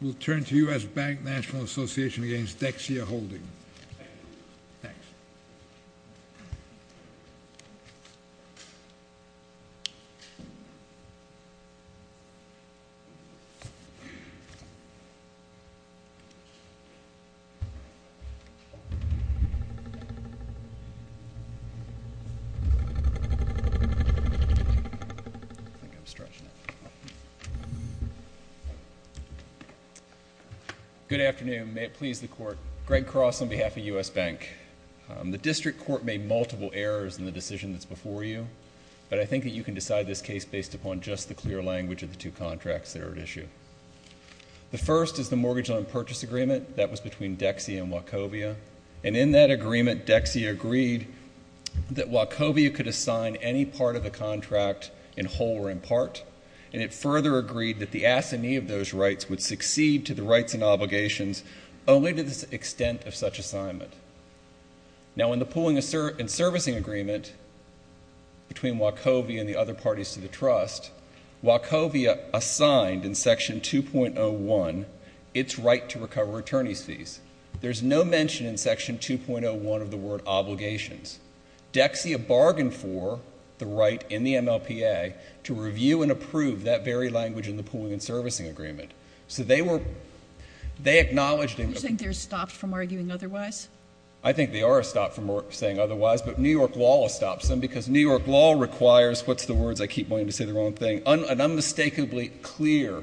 We'll turn to U.S. Bank National Association against Dexia Holding. Good afternoon. May it please the Court. Greg Cross on behalf of U.S. Bank. The District Court made multiple errors in the decision that's before you, but I think that you can decide this case based upon just the clear language of the two contracts that are at issue. The first is the Mortgage Loan Purchase Agreement. That was between Dexia and Wachovia. And in that agreement, Dexia agreed that Wachovia could assign any part of the contract in whole or in part, and it further agreed that the assignee of those rights would succeed to the rights and obligations only to the extent of such assignment. Now, in the Pooling and Servicing Agreement between Wachovia and the other parties to the trust, Wachovia assigned in Section 2.01 its right to recover attorney's fees. There's no mention in Section 2.01 of the word obligations. Dexia bargained for the right in the MLPA to review and approve that very language in the Pooling and Servicing Agreement. So they were, they acknowledged in the- Do you think they're stopped from arguing otherwise? I think they are stopped from saying otherwise, but New York law will stop them because New York law requires, what's the words, I keep wanting to say the wrong thing, an unmistakably clear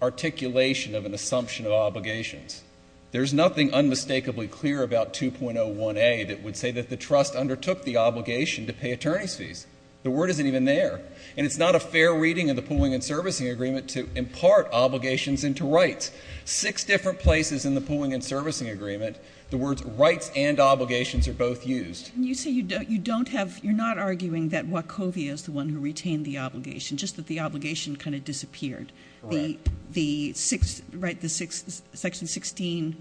articulation of an assumption of obligations. There's nothing unmistakably clear about 2.01a that would say that the trust undertook the obligation to pay attorney's fees. The word isn't even there. And it's not a fair reading of the Pooling and Servicing Agreement to impart obligations into rights. Six different places in the Pooling and Servicing Agreement, the words rights and obligations are both used. You say you don't have, you're not arguing that Wachovia is the one who retained the obligation, just that the obligation kind of disappeared. Correct. Right, the section 16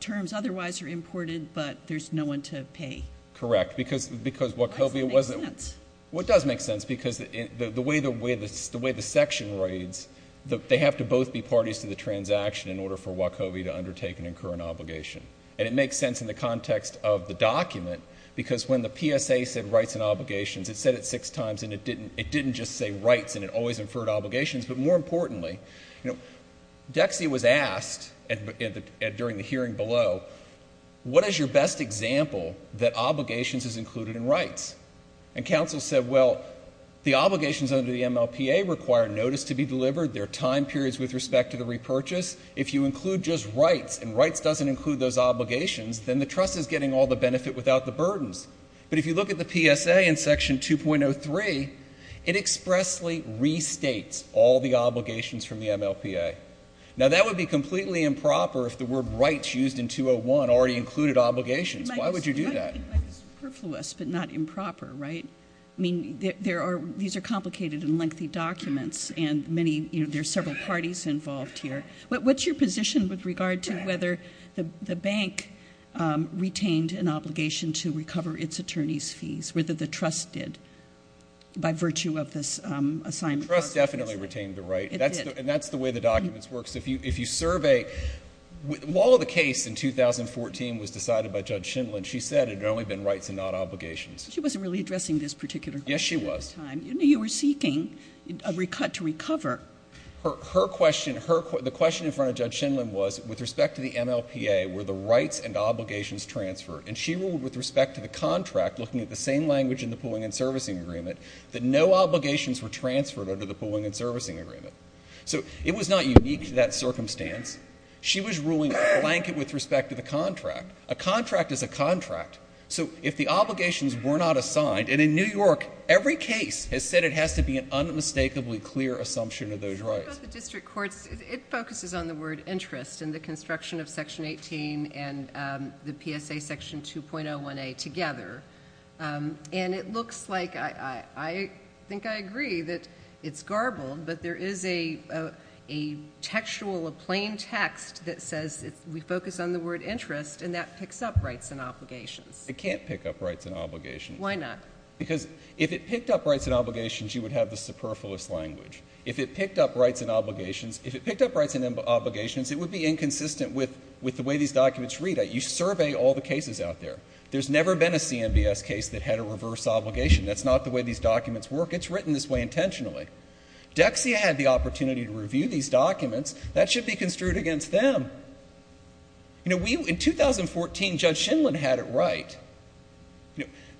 terms otherwise are imported, but there's no one to pay. Correct, because Wachovia wasn't- Well, it does make sense. Well, it does make sense because the way the section reads, they have to both be parties to the transaction in order for Wachovia to undertake and incur an obligation. And it makes sense in the context of the document because when the PSA said rights and obligations, it said it six times and it didn't just say rights and it always inferred obligations. But more importantly, you know, Dexy was asked during the hearing below, what is your best example that obligations is included in rights? And counsel said, well, the obligations under the MLPA require notice to be delivered, there are time periods with respect to the repurchase. If you include just rights and rights doesn't include those obligations, but if you look at the PSA in section 2.03, it expressly restates all the obligations from the MLPA. Now, that would be completely improper if the word rights used in 201 already included obligations. Why would you do that? It might be superfluous, but not improper, right? I mean, these are complicated and lengthy documents and there are several parties involved here. What's your position with regard to whether the bank retained an obligation to recover its attorney's fees, whether the trust did by virtue of this assignment process? Trust definitely retained the right. It did. And that's the way the documents work. So if you survey, while the case in 2014 was decided by Judge Shindlin, she said it had only been rights and not obligations. She wasn't really addressing this particular question at the time. Yes, she was. You were seeking a cut to recover. Her question, the question in front of Judge Shindlin was, with respect to the MLPA, were the rights and obligations transferred? And she ruled with respect to the contract, looking at the same language in the pooling and servicing agreement, that no obligations were transferred under the pooling and servicing agreement. So it was not unique to that circumstance. She was ruling a blanket with respect to the contract. A contract is a contract. So if the obligations were not assigned, and in New York every case has said it has to be an unmistakably clear assumption of those rights. Sure, but the district courts, it focuses on the word interest and the construction of Section 18 and the PSA Section 2.01A together. And it looks like, I think I agree that it's garbled, but there is a textual, a plain text that says we focus on the word interest, and that picks up rights and obligations. It can't pick up rights and obligations. Why not? Because if it picked up rights and obligations, you would have the superfluous language. If it picked up rights and obligations, if it picked up rights and obligations, it would be inconsistent with the way these documents read. You survey all the cases out there. There's never been a CMBS case that had a reverse obligation. That's not the way these documents work. It's written this way intentionally. Dexia had the opportunity to review these documents. That should be construed against them. You know, in 2014, Judge Shindlin had it right.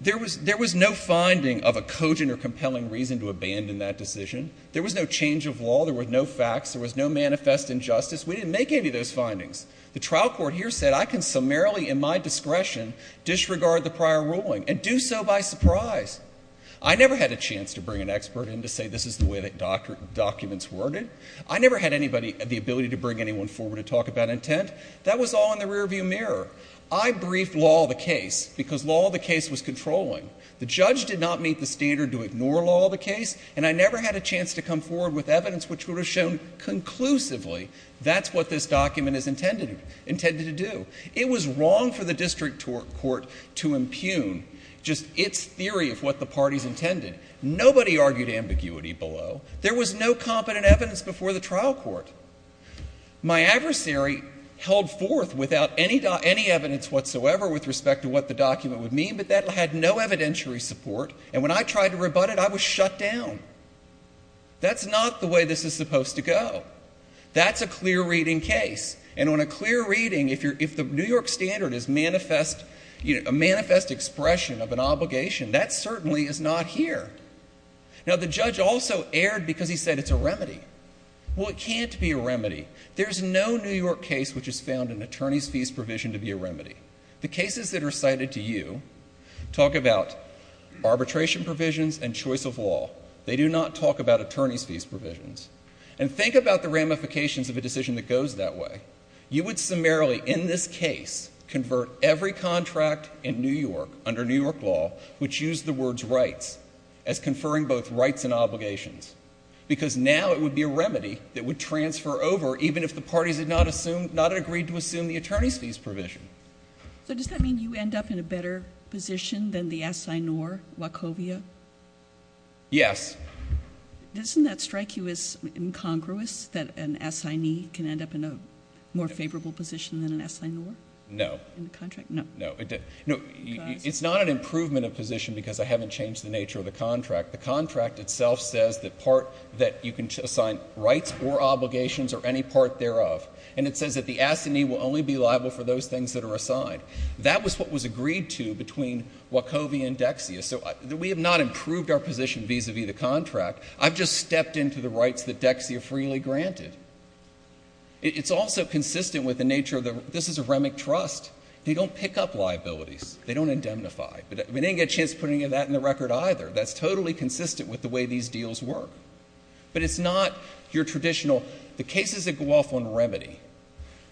There was no finding of a cogent or compelling reason to abandon that decision. There was no change of law. There were no facts. There was no manifest injustice. We didn't make any of those findings. The trial court here said I can summarily in my discretion disregard the prior ruling and do so by surprise. I never had a chance to bring an expert in to say this is the way that documents were written. I never had the ability to bring anyone forward to talk about intent. That was all in the rearview mirror. I briefed law of the case because law of the case was controlling. The judge did not meet the standard to ignore law of the case, and I never had a chance to come forward with evidence which would have shown conclusively that's what this document is intended to do. It was wrong for the district court to impugn just its theory of what the parties intended. Nobody argued ambiguity below. There was no competent evidence before the trial court. My adversary held forth without any evidence whatsoever with respect to what the document would mean, but that had no evidentiary support, and when I tried to rebut it, I was shut down. That's not the way this is supposed to go. That's a clear reading case, and on a clear reading, if the New York standard is a manifest expression of an obligation, that certainly is not here. Now, the judge also erred because he said it's a remedy. Well, it can't be a remedy. There's no New York case which has found an attorney's fees provision to be a remedy. The cases that are cited to you talk about arbitration provisions and choice of law. They do not talk about attorney's fees provisions, and think about the ramifications of a decision that goes that way. You would summarily, in this case, convert every contract in New York under New York law which used the words rights as conferring both rights and obligations because now it would be a remedy that would transfer over even if the parties had not assumed, not agreed to assume the attorney's fees provision. So does that mean you end up in a better position than the assignor, Wachovia? Yes. Doesn't that strike you as incongruous that an assignee can end up in a more favorable position than an assignor? No. In the contract? No. No. It's not an improvement of position because I haven't changed the nature of the contract. The contract itself says that part that you can assign rights or obligations or any part thereof. And it says that the assignee will only be liable for those things that are assigned. That was what was agreed to between Wachovia and Dexia. So we have not improved our position vis-à-vis the contract. I've just stepped into the rights that Dexia freely granted. It's also consistent with the nature of the — this is a REMIC trust. They don't pick up liabilities. They don't indemnify. We didn't get a chance to put any of that in the record either. That's totally consistent with the way these deals work. But it's not your traditional — the cases that go off on remedy,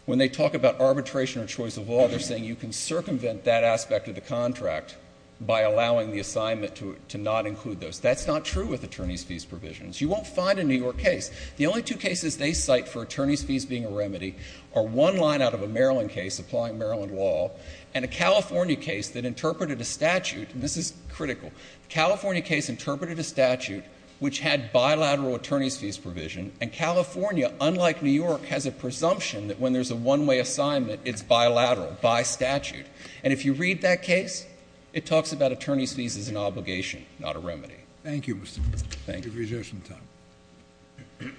when they talk about arbitration or choice of law, they're saying you can circumvent that aspect of the contract by allowing the assignment to not include those. That's not true with attorneys' fees provisions. You won't find a New York case. The only two cases they cite for attorneys' fees being a remedy are one line out of a Maryland case, applying Maryland law, and a California case that interpreted a statute — and this is critical. The California case interpreted a statute which had bilateral attorneys' fees provision, and California, unlike New York, has a presumption that when there's a one-way assignment, it's bilateral, by statute. And if you read that case, it talks about attorneys' fees as an obligation, not a remedy. Thank you, Mr. Cooper. Thank you. You've reserved some time.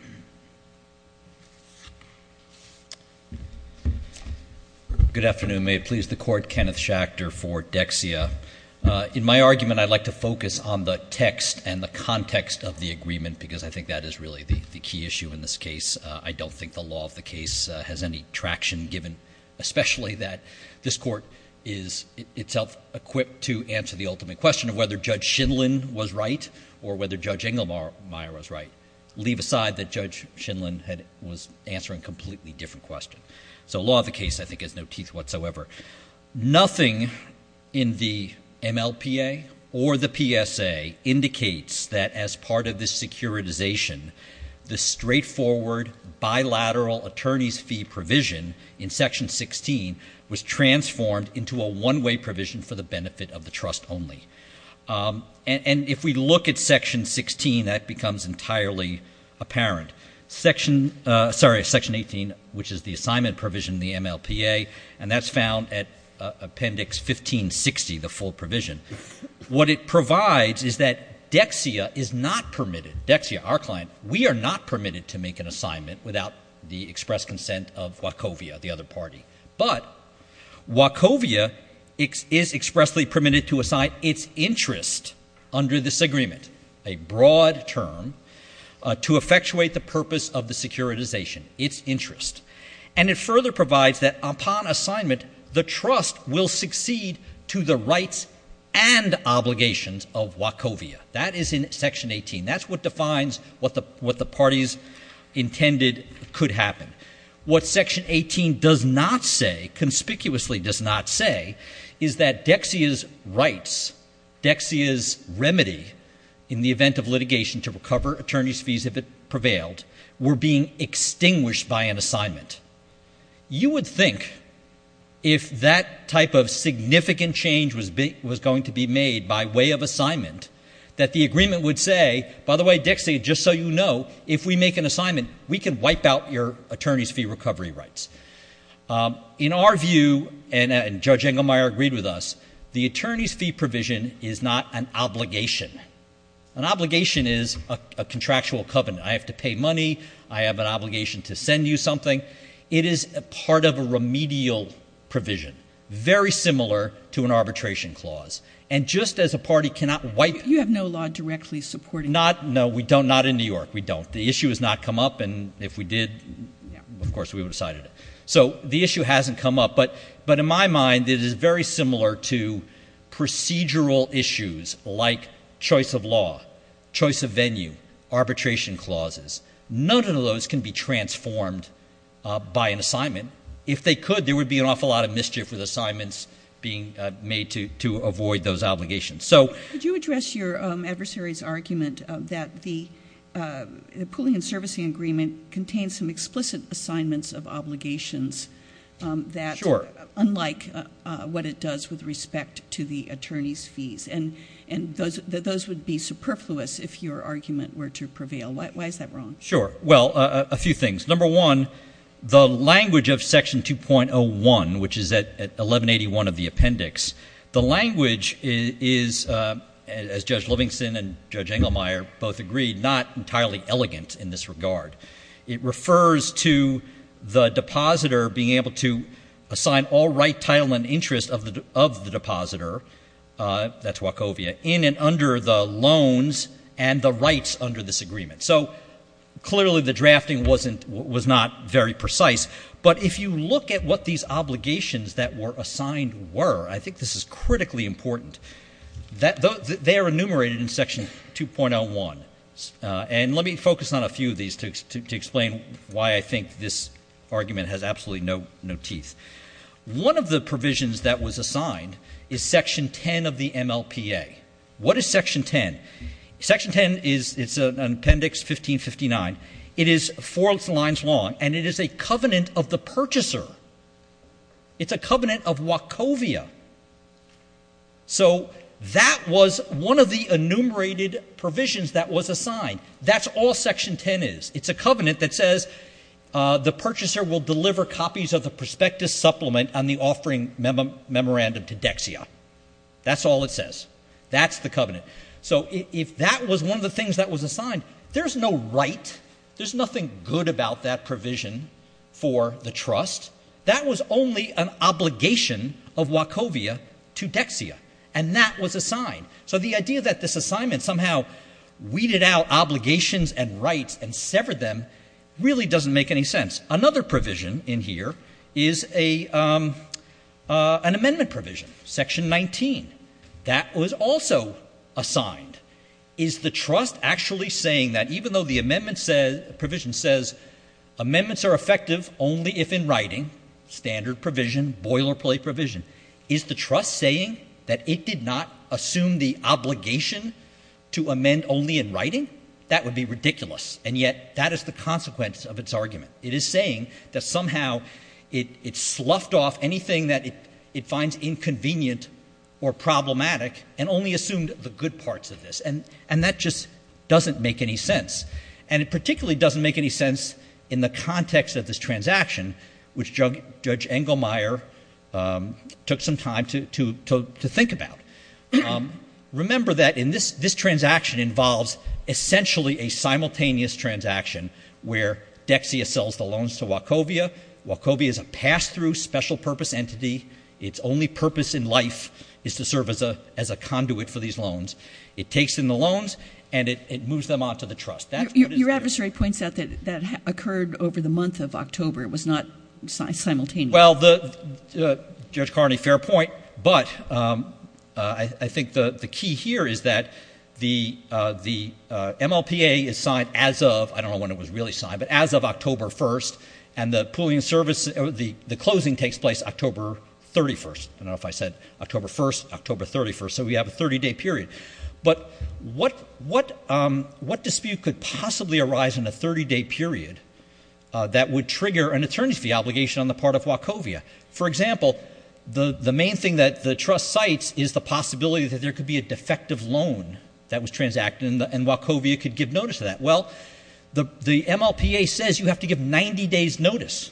Good afternoon. May it please the Court, Kenneth Schachter for Dexia. In my argument, I'd like to focus on the text and the context of the agreement because I think that is really the key issue in this case. I don't think the law of the case has any traction, given especially that this Court is itself equipped to answer the ultimate question of whether Judge Shinlin was right or whether Judge Inglemeyer was right. Leave aside that Judge Shinlin was answering a completely different question. So the law of the case, I think, has no teeth whatsoever. Nothing in the MLPA or the PSA indicates that as part of this securitization, the straightforward bilateral attorneys' fee provision in Section 16 was transformed into a one-way provision for the benefit of the trust only. And if we look at Section 16, that becomes entirely apparent. Sorry, Section 18, which is the assignment provision in the MLPA, and that's found at Appendix 1560, the full provision. What it provides is that Dexia is not permitted. Dexia, our client, we are not permitted to make an assignment without the express consent of Wachovia, the other party. But Wachovia is expressly permitted to assign its interest under this agreement, a broad term, to effectuate the purpose of the securitization, its interest. And it further provides that upon assignment, the trust will succeed to the rights and obligations of Wachovia. That is in Section 18. That's what defines what the parties intended could happen. What Section 18 does not say, conspicuously does not say, is that Dexia's rights, Dexia's remedy in the event of litigation to recover attorneys' fees if it prevailed, were being extinguished by an assignment. You would think if that type of significant change was going to be made by way of assignment, that the agreement would say, by the way, Dexia, just so you know, if we make an assignment, we can wipe out your attorneys' fee recovery rights. In our view, and Judge Engelmeyer agreed with us, the attorneys' fee provision is not an obligation. An obligation is a contractual covenant. I have to pay money. I have an obligation to send you something. It is part of a remedial provision, very similar to an arbitration clause. And just as a party cannot wipe you have no law directly supporting that. No, we don't. Not in New York. We don't. The issue has not come up. And if we did, of course, we would have decided it. So the issue hasn't come up. But in my mind, it is very similar to procedural issues like choice of law, choice of venue, arbitration clauses. None of those can be transformed by an assignment. If they could, there would be an awful lot of mischief with assignments being made to avoid those obligations. Could you address your adversary's argument that the Pulling and Servicing Agreement contains some explicit assignments of obligations that, unlike what it does with respect to the attorneys' fees? And those would be superfluous if your argument were to prevail. Why is that wrong? Sure. Well, a few things. Number one, the language of Section 2.01, which is at 1181 of the appendix, the language is, as Judge Livingston and Judge Engelmeyer both agreed, not entirely elegant in this regard. It refers to the depositor being able to assign all right, title, and interest of the depositor, that's Wachovia, in and under the loans and the rights under this agreement. So clearly the drafting was not very precise. But if you look at what these obligations that were assigned were, I think this is critically important, they are enumerated in Section 2.01. And let me focus on a few of these to explain why I think this argument has absolutely no teeth. One of the provisions that was assigned is Section 10 of the MLPA. What is Section 10? Section 10 is an appendix 1559. It is four lines long, and it is a covenant of the purchaser. It's a covenant of Wachovia. So that was one of the enumerated provisions that was assigned. That's all Section 10 is. It's a covenant that says the purchaser will deliver copies of the prospectus supplement on the offering memorandum to Dexia. That's all it says. That's the covenant. So if that was one of the things that was assigned, there's no right, there's nothing good about that provision for the trust. That was only an obligation of Wachovia to Dexia. And that was assigned. So the idea that this assignment somehow weeded out obligations and rights and severed them really doesn't make any sense. Another provision in here is an amendment provision, Section 19. That was also assigned. Is the trust actually saying that even though the amendment says, amendments are effective only if in writing, standard provision, boilerplate provision, is the trust saying that it did not assume the obligation to amend only in writing? That would be ridiculous. And yet that is the consequence of its argument. It is saying that somehow it sloughed off anything that it finds inconvenient or problematic and only assumed the good parts of this. And that just doesn't make any sense. And it particularly doesn't make any sense in the context of this transaction, which Judge Engelmeyer took some time to think about. Remember that this transaction involves essentially a simultaneous transaction where Dexia sells the loans to Wachovia. Wachovia is a pass-through special purpose entity. Its only purpose in life is to serve as a conduit for these loans. It takes in the loans and it moves them on to the trust. Your adversary points out that that occurred over the month of October. It was not simultaneous. Well, Judge Carney, fair point. But I think the key here is that the MLPA is signed as of, I don't know when it was really signed, but as of October 1st. And the pooling service, the closing takes place October 31st. I don't know if I said October 1st, October 31st. So we have a 30-day period. But what dispute could possibly arise in a 30-day period that would trigger an attorney's fee obligation on the part of Wachovia? For example, the main thing that the trust cites is the possibility that there could be a defective loan that was transacted and Wachovia could give notice of that. Well, the MLPA says you have to give 90 days notice,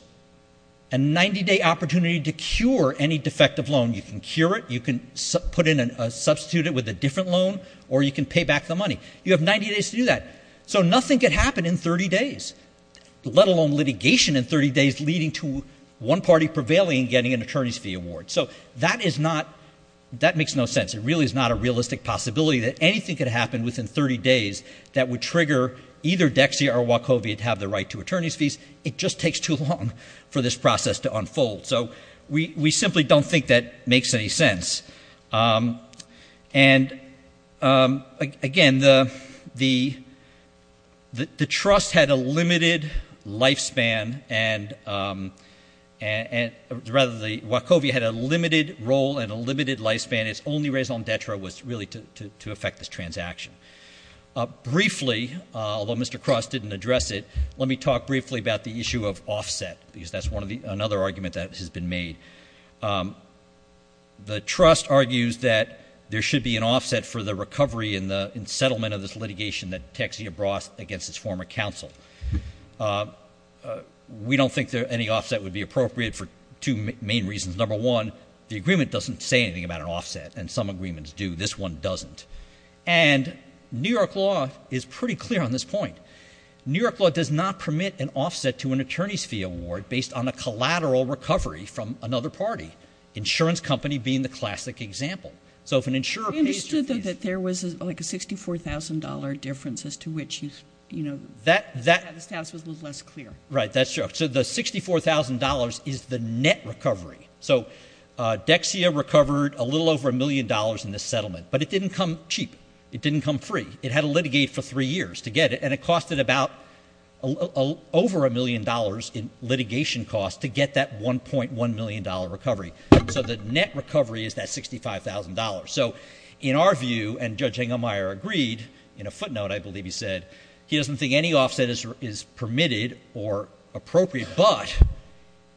a 90-day opportunity to cure any defective loan. You can cure it, you can substitute it with a different loan, or you can pay back the money. You have 90 days to do that. So nothing could happen in 30 days, let alone litigation in 30 days, leading to one party prevailing and getting an attorney's fee award. So that is not, that makes no sense. It really is not a realistic possibility that anything could happen within 30 days that would trigger either Dexia or Wachovia to have the right to attorney's fees. It just takes too long for this process to unfold. So we simply don't think that makes any sense. And, again, the trust had a limited lifespan, and rather Wachovia had a limited role and a limited lifespan. Its only raison d'etre was really to affect this transaction. Briefly, although Mr. Cross didn't address it, let me talk briefly about the issue of offset, because that's another argument that has been made. The trust argues that there should be an offset for the recovery and the settlement of this litigation that Dexia brought against its former counsel. We don't think any offset would be appropriate for two main reasons. Number one, the agreement doesn't say anything about an offset, and some agreements do. This one doesn't. And New York law is pretty clear on this point. New York law does not permit an offset to an attorney's fee award based on a collateral recovery from another party, insurance company being the classic example. So if an insurer pays your fees... We understood that there was like a $64,000 difference as to which, you know, the status was a little less clear. Right, that's true. So the $64,000 is the net recovery. So Dexia recovered a little over a million dollars in this settlement, but it didn't come cheap. It didn't come free. It had to litigate for three years to get it, and it costed about over a million dollars in litigation costs to get that $1.1 million recovery. So the net recovery is that $65,000. So in our view, and Judge Hengemeyer agreed, in a footnote I believe he said, he doesn't think any offset is permitted or appropriate, but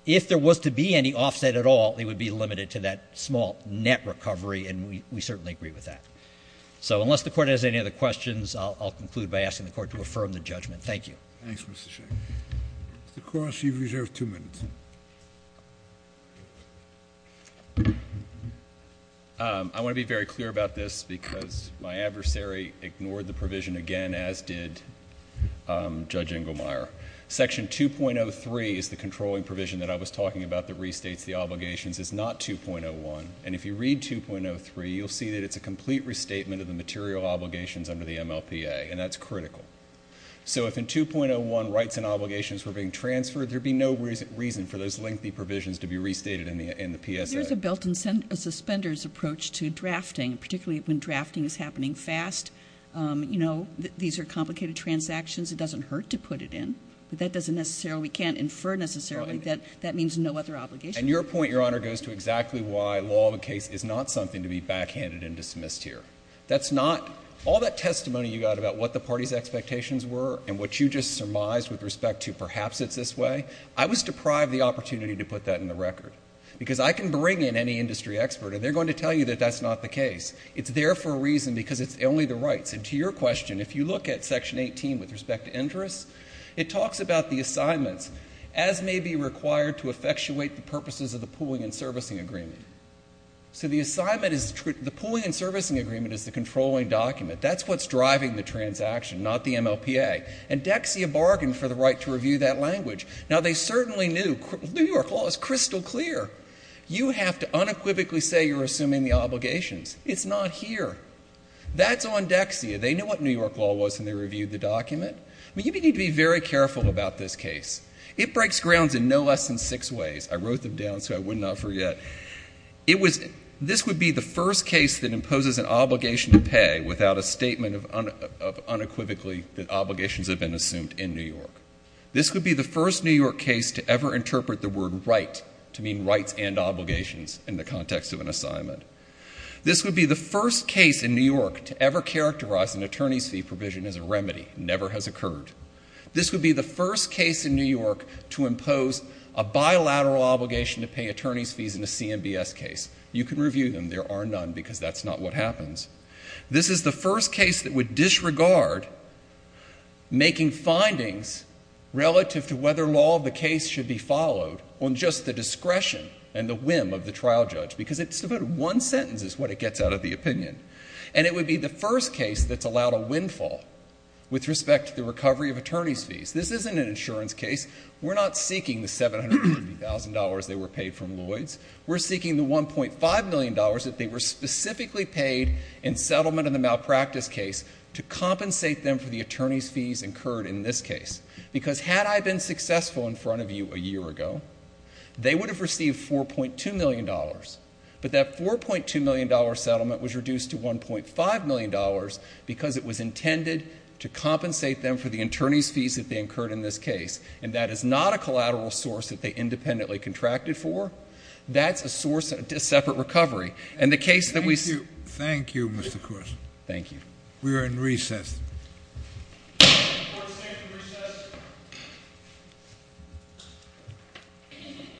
if there was to be any offset at all, it would be limited to that small net recovery, and we certainly agree with that. So unless the Court has any other questions, I'll conclude by asking the Court to affirm the judgment. Thank you. Thanks, Mr. Sheikh. Mr. Cross, you've reserved two minutes. I want to be very clear about this because my adversary ignored the provision again, as did Judge Hengemeyer. Section 2.03 is the controlling provision that I was talking about that restates the obligations. It's not 2.01. And if you read 2.03, you'll see that it's a complete restatement of the material obligations under the MLPA, and that's critical. So if in 2.01 rights and obligations were being transferred, there'd be no reason for those lengthy provisions to be restated in the PSA. There's a built-in suspenders approach to drafting, particularly when drafting is happening fast. You know, these are complicated transactions. It doesn't hurt to put it in, but that doesn't necessarily, we can't infer necessarily, that that means no other obligation. And your point, Your Honor, goes to exactly why law of a case is not something to be backhanded and dismissed here. That's not, all that testimony you got about what the party's expectations were and what you just surmised with respect to perhaps it's this way, I was deprived the opportunity to put that in the record. Because I can bring in any industry expert and they're going to tell you that that's not the case. It's there for a reason because it's only the rights. And to your question, if you look at Section 18 with respect to interests, it talks about the assignments as may be required to effectuate the purposes of the pooling and servicing agreement. So the assignment is, the pooling and servicing agreement is the controlling document. That's what's driving the transaction, not the MLPA. And Dexia bargained for the right to review that language. Now, they certainly knew, New York law is crystal clear. You have to unequivocally say you're assuming the obligations. It's not here. That's on Dexia. They knew what New York law was when they reviewed the document. You need to be very careful about this case. It breaks grounds in no less than six ways. I wrote them down so I would not forget. This would be the first case that imposes an obligation to pay without a statement of unequivocally that obligations have been assumed in New York. This would be the first New York case to ever interpret the word right to mean rights and obligations in the context of an assignment. This would be the first case in New York to ever characterize an attorney's fee provision as a remedy. It never has occurred. This would be the first case in New York to impose a bilateral obligation to pay attorney's fees in a CMBS case. You can review them. There are none because that's not what happens. This is the first case that would disregard making findings relative to whether law of the case should be followed on just the discretion and the whim of the trial judge because it's about one sentence is what it gets out of the opinion. And it would be the first case that's allowed a windfall with respect to the recovery of attorney's fees. This isn't an insurance case. We're not seeking the $750,000 they were paid from Lloyds. We're seeking the $1.5 million that they were specifically paid in settlement of the malpractice case to compensate them for the attorney's fees incurred in this case because had I been successful in front of you a year ago, they would have received $4.2 million. But that $4.2 million settlement was reduced to $1.5 million because it was intended to compensate them for the attorney's fees that they incurred in this case. And that is not a collateral source that they independently contracted for. That's a source of a separate recovery. And the case that we... Thank you. Thank you, Mr. Corse. Thank you. We are in recess. Court is now in recess.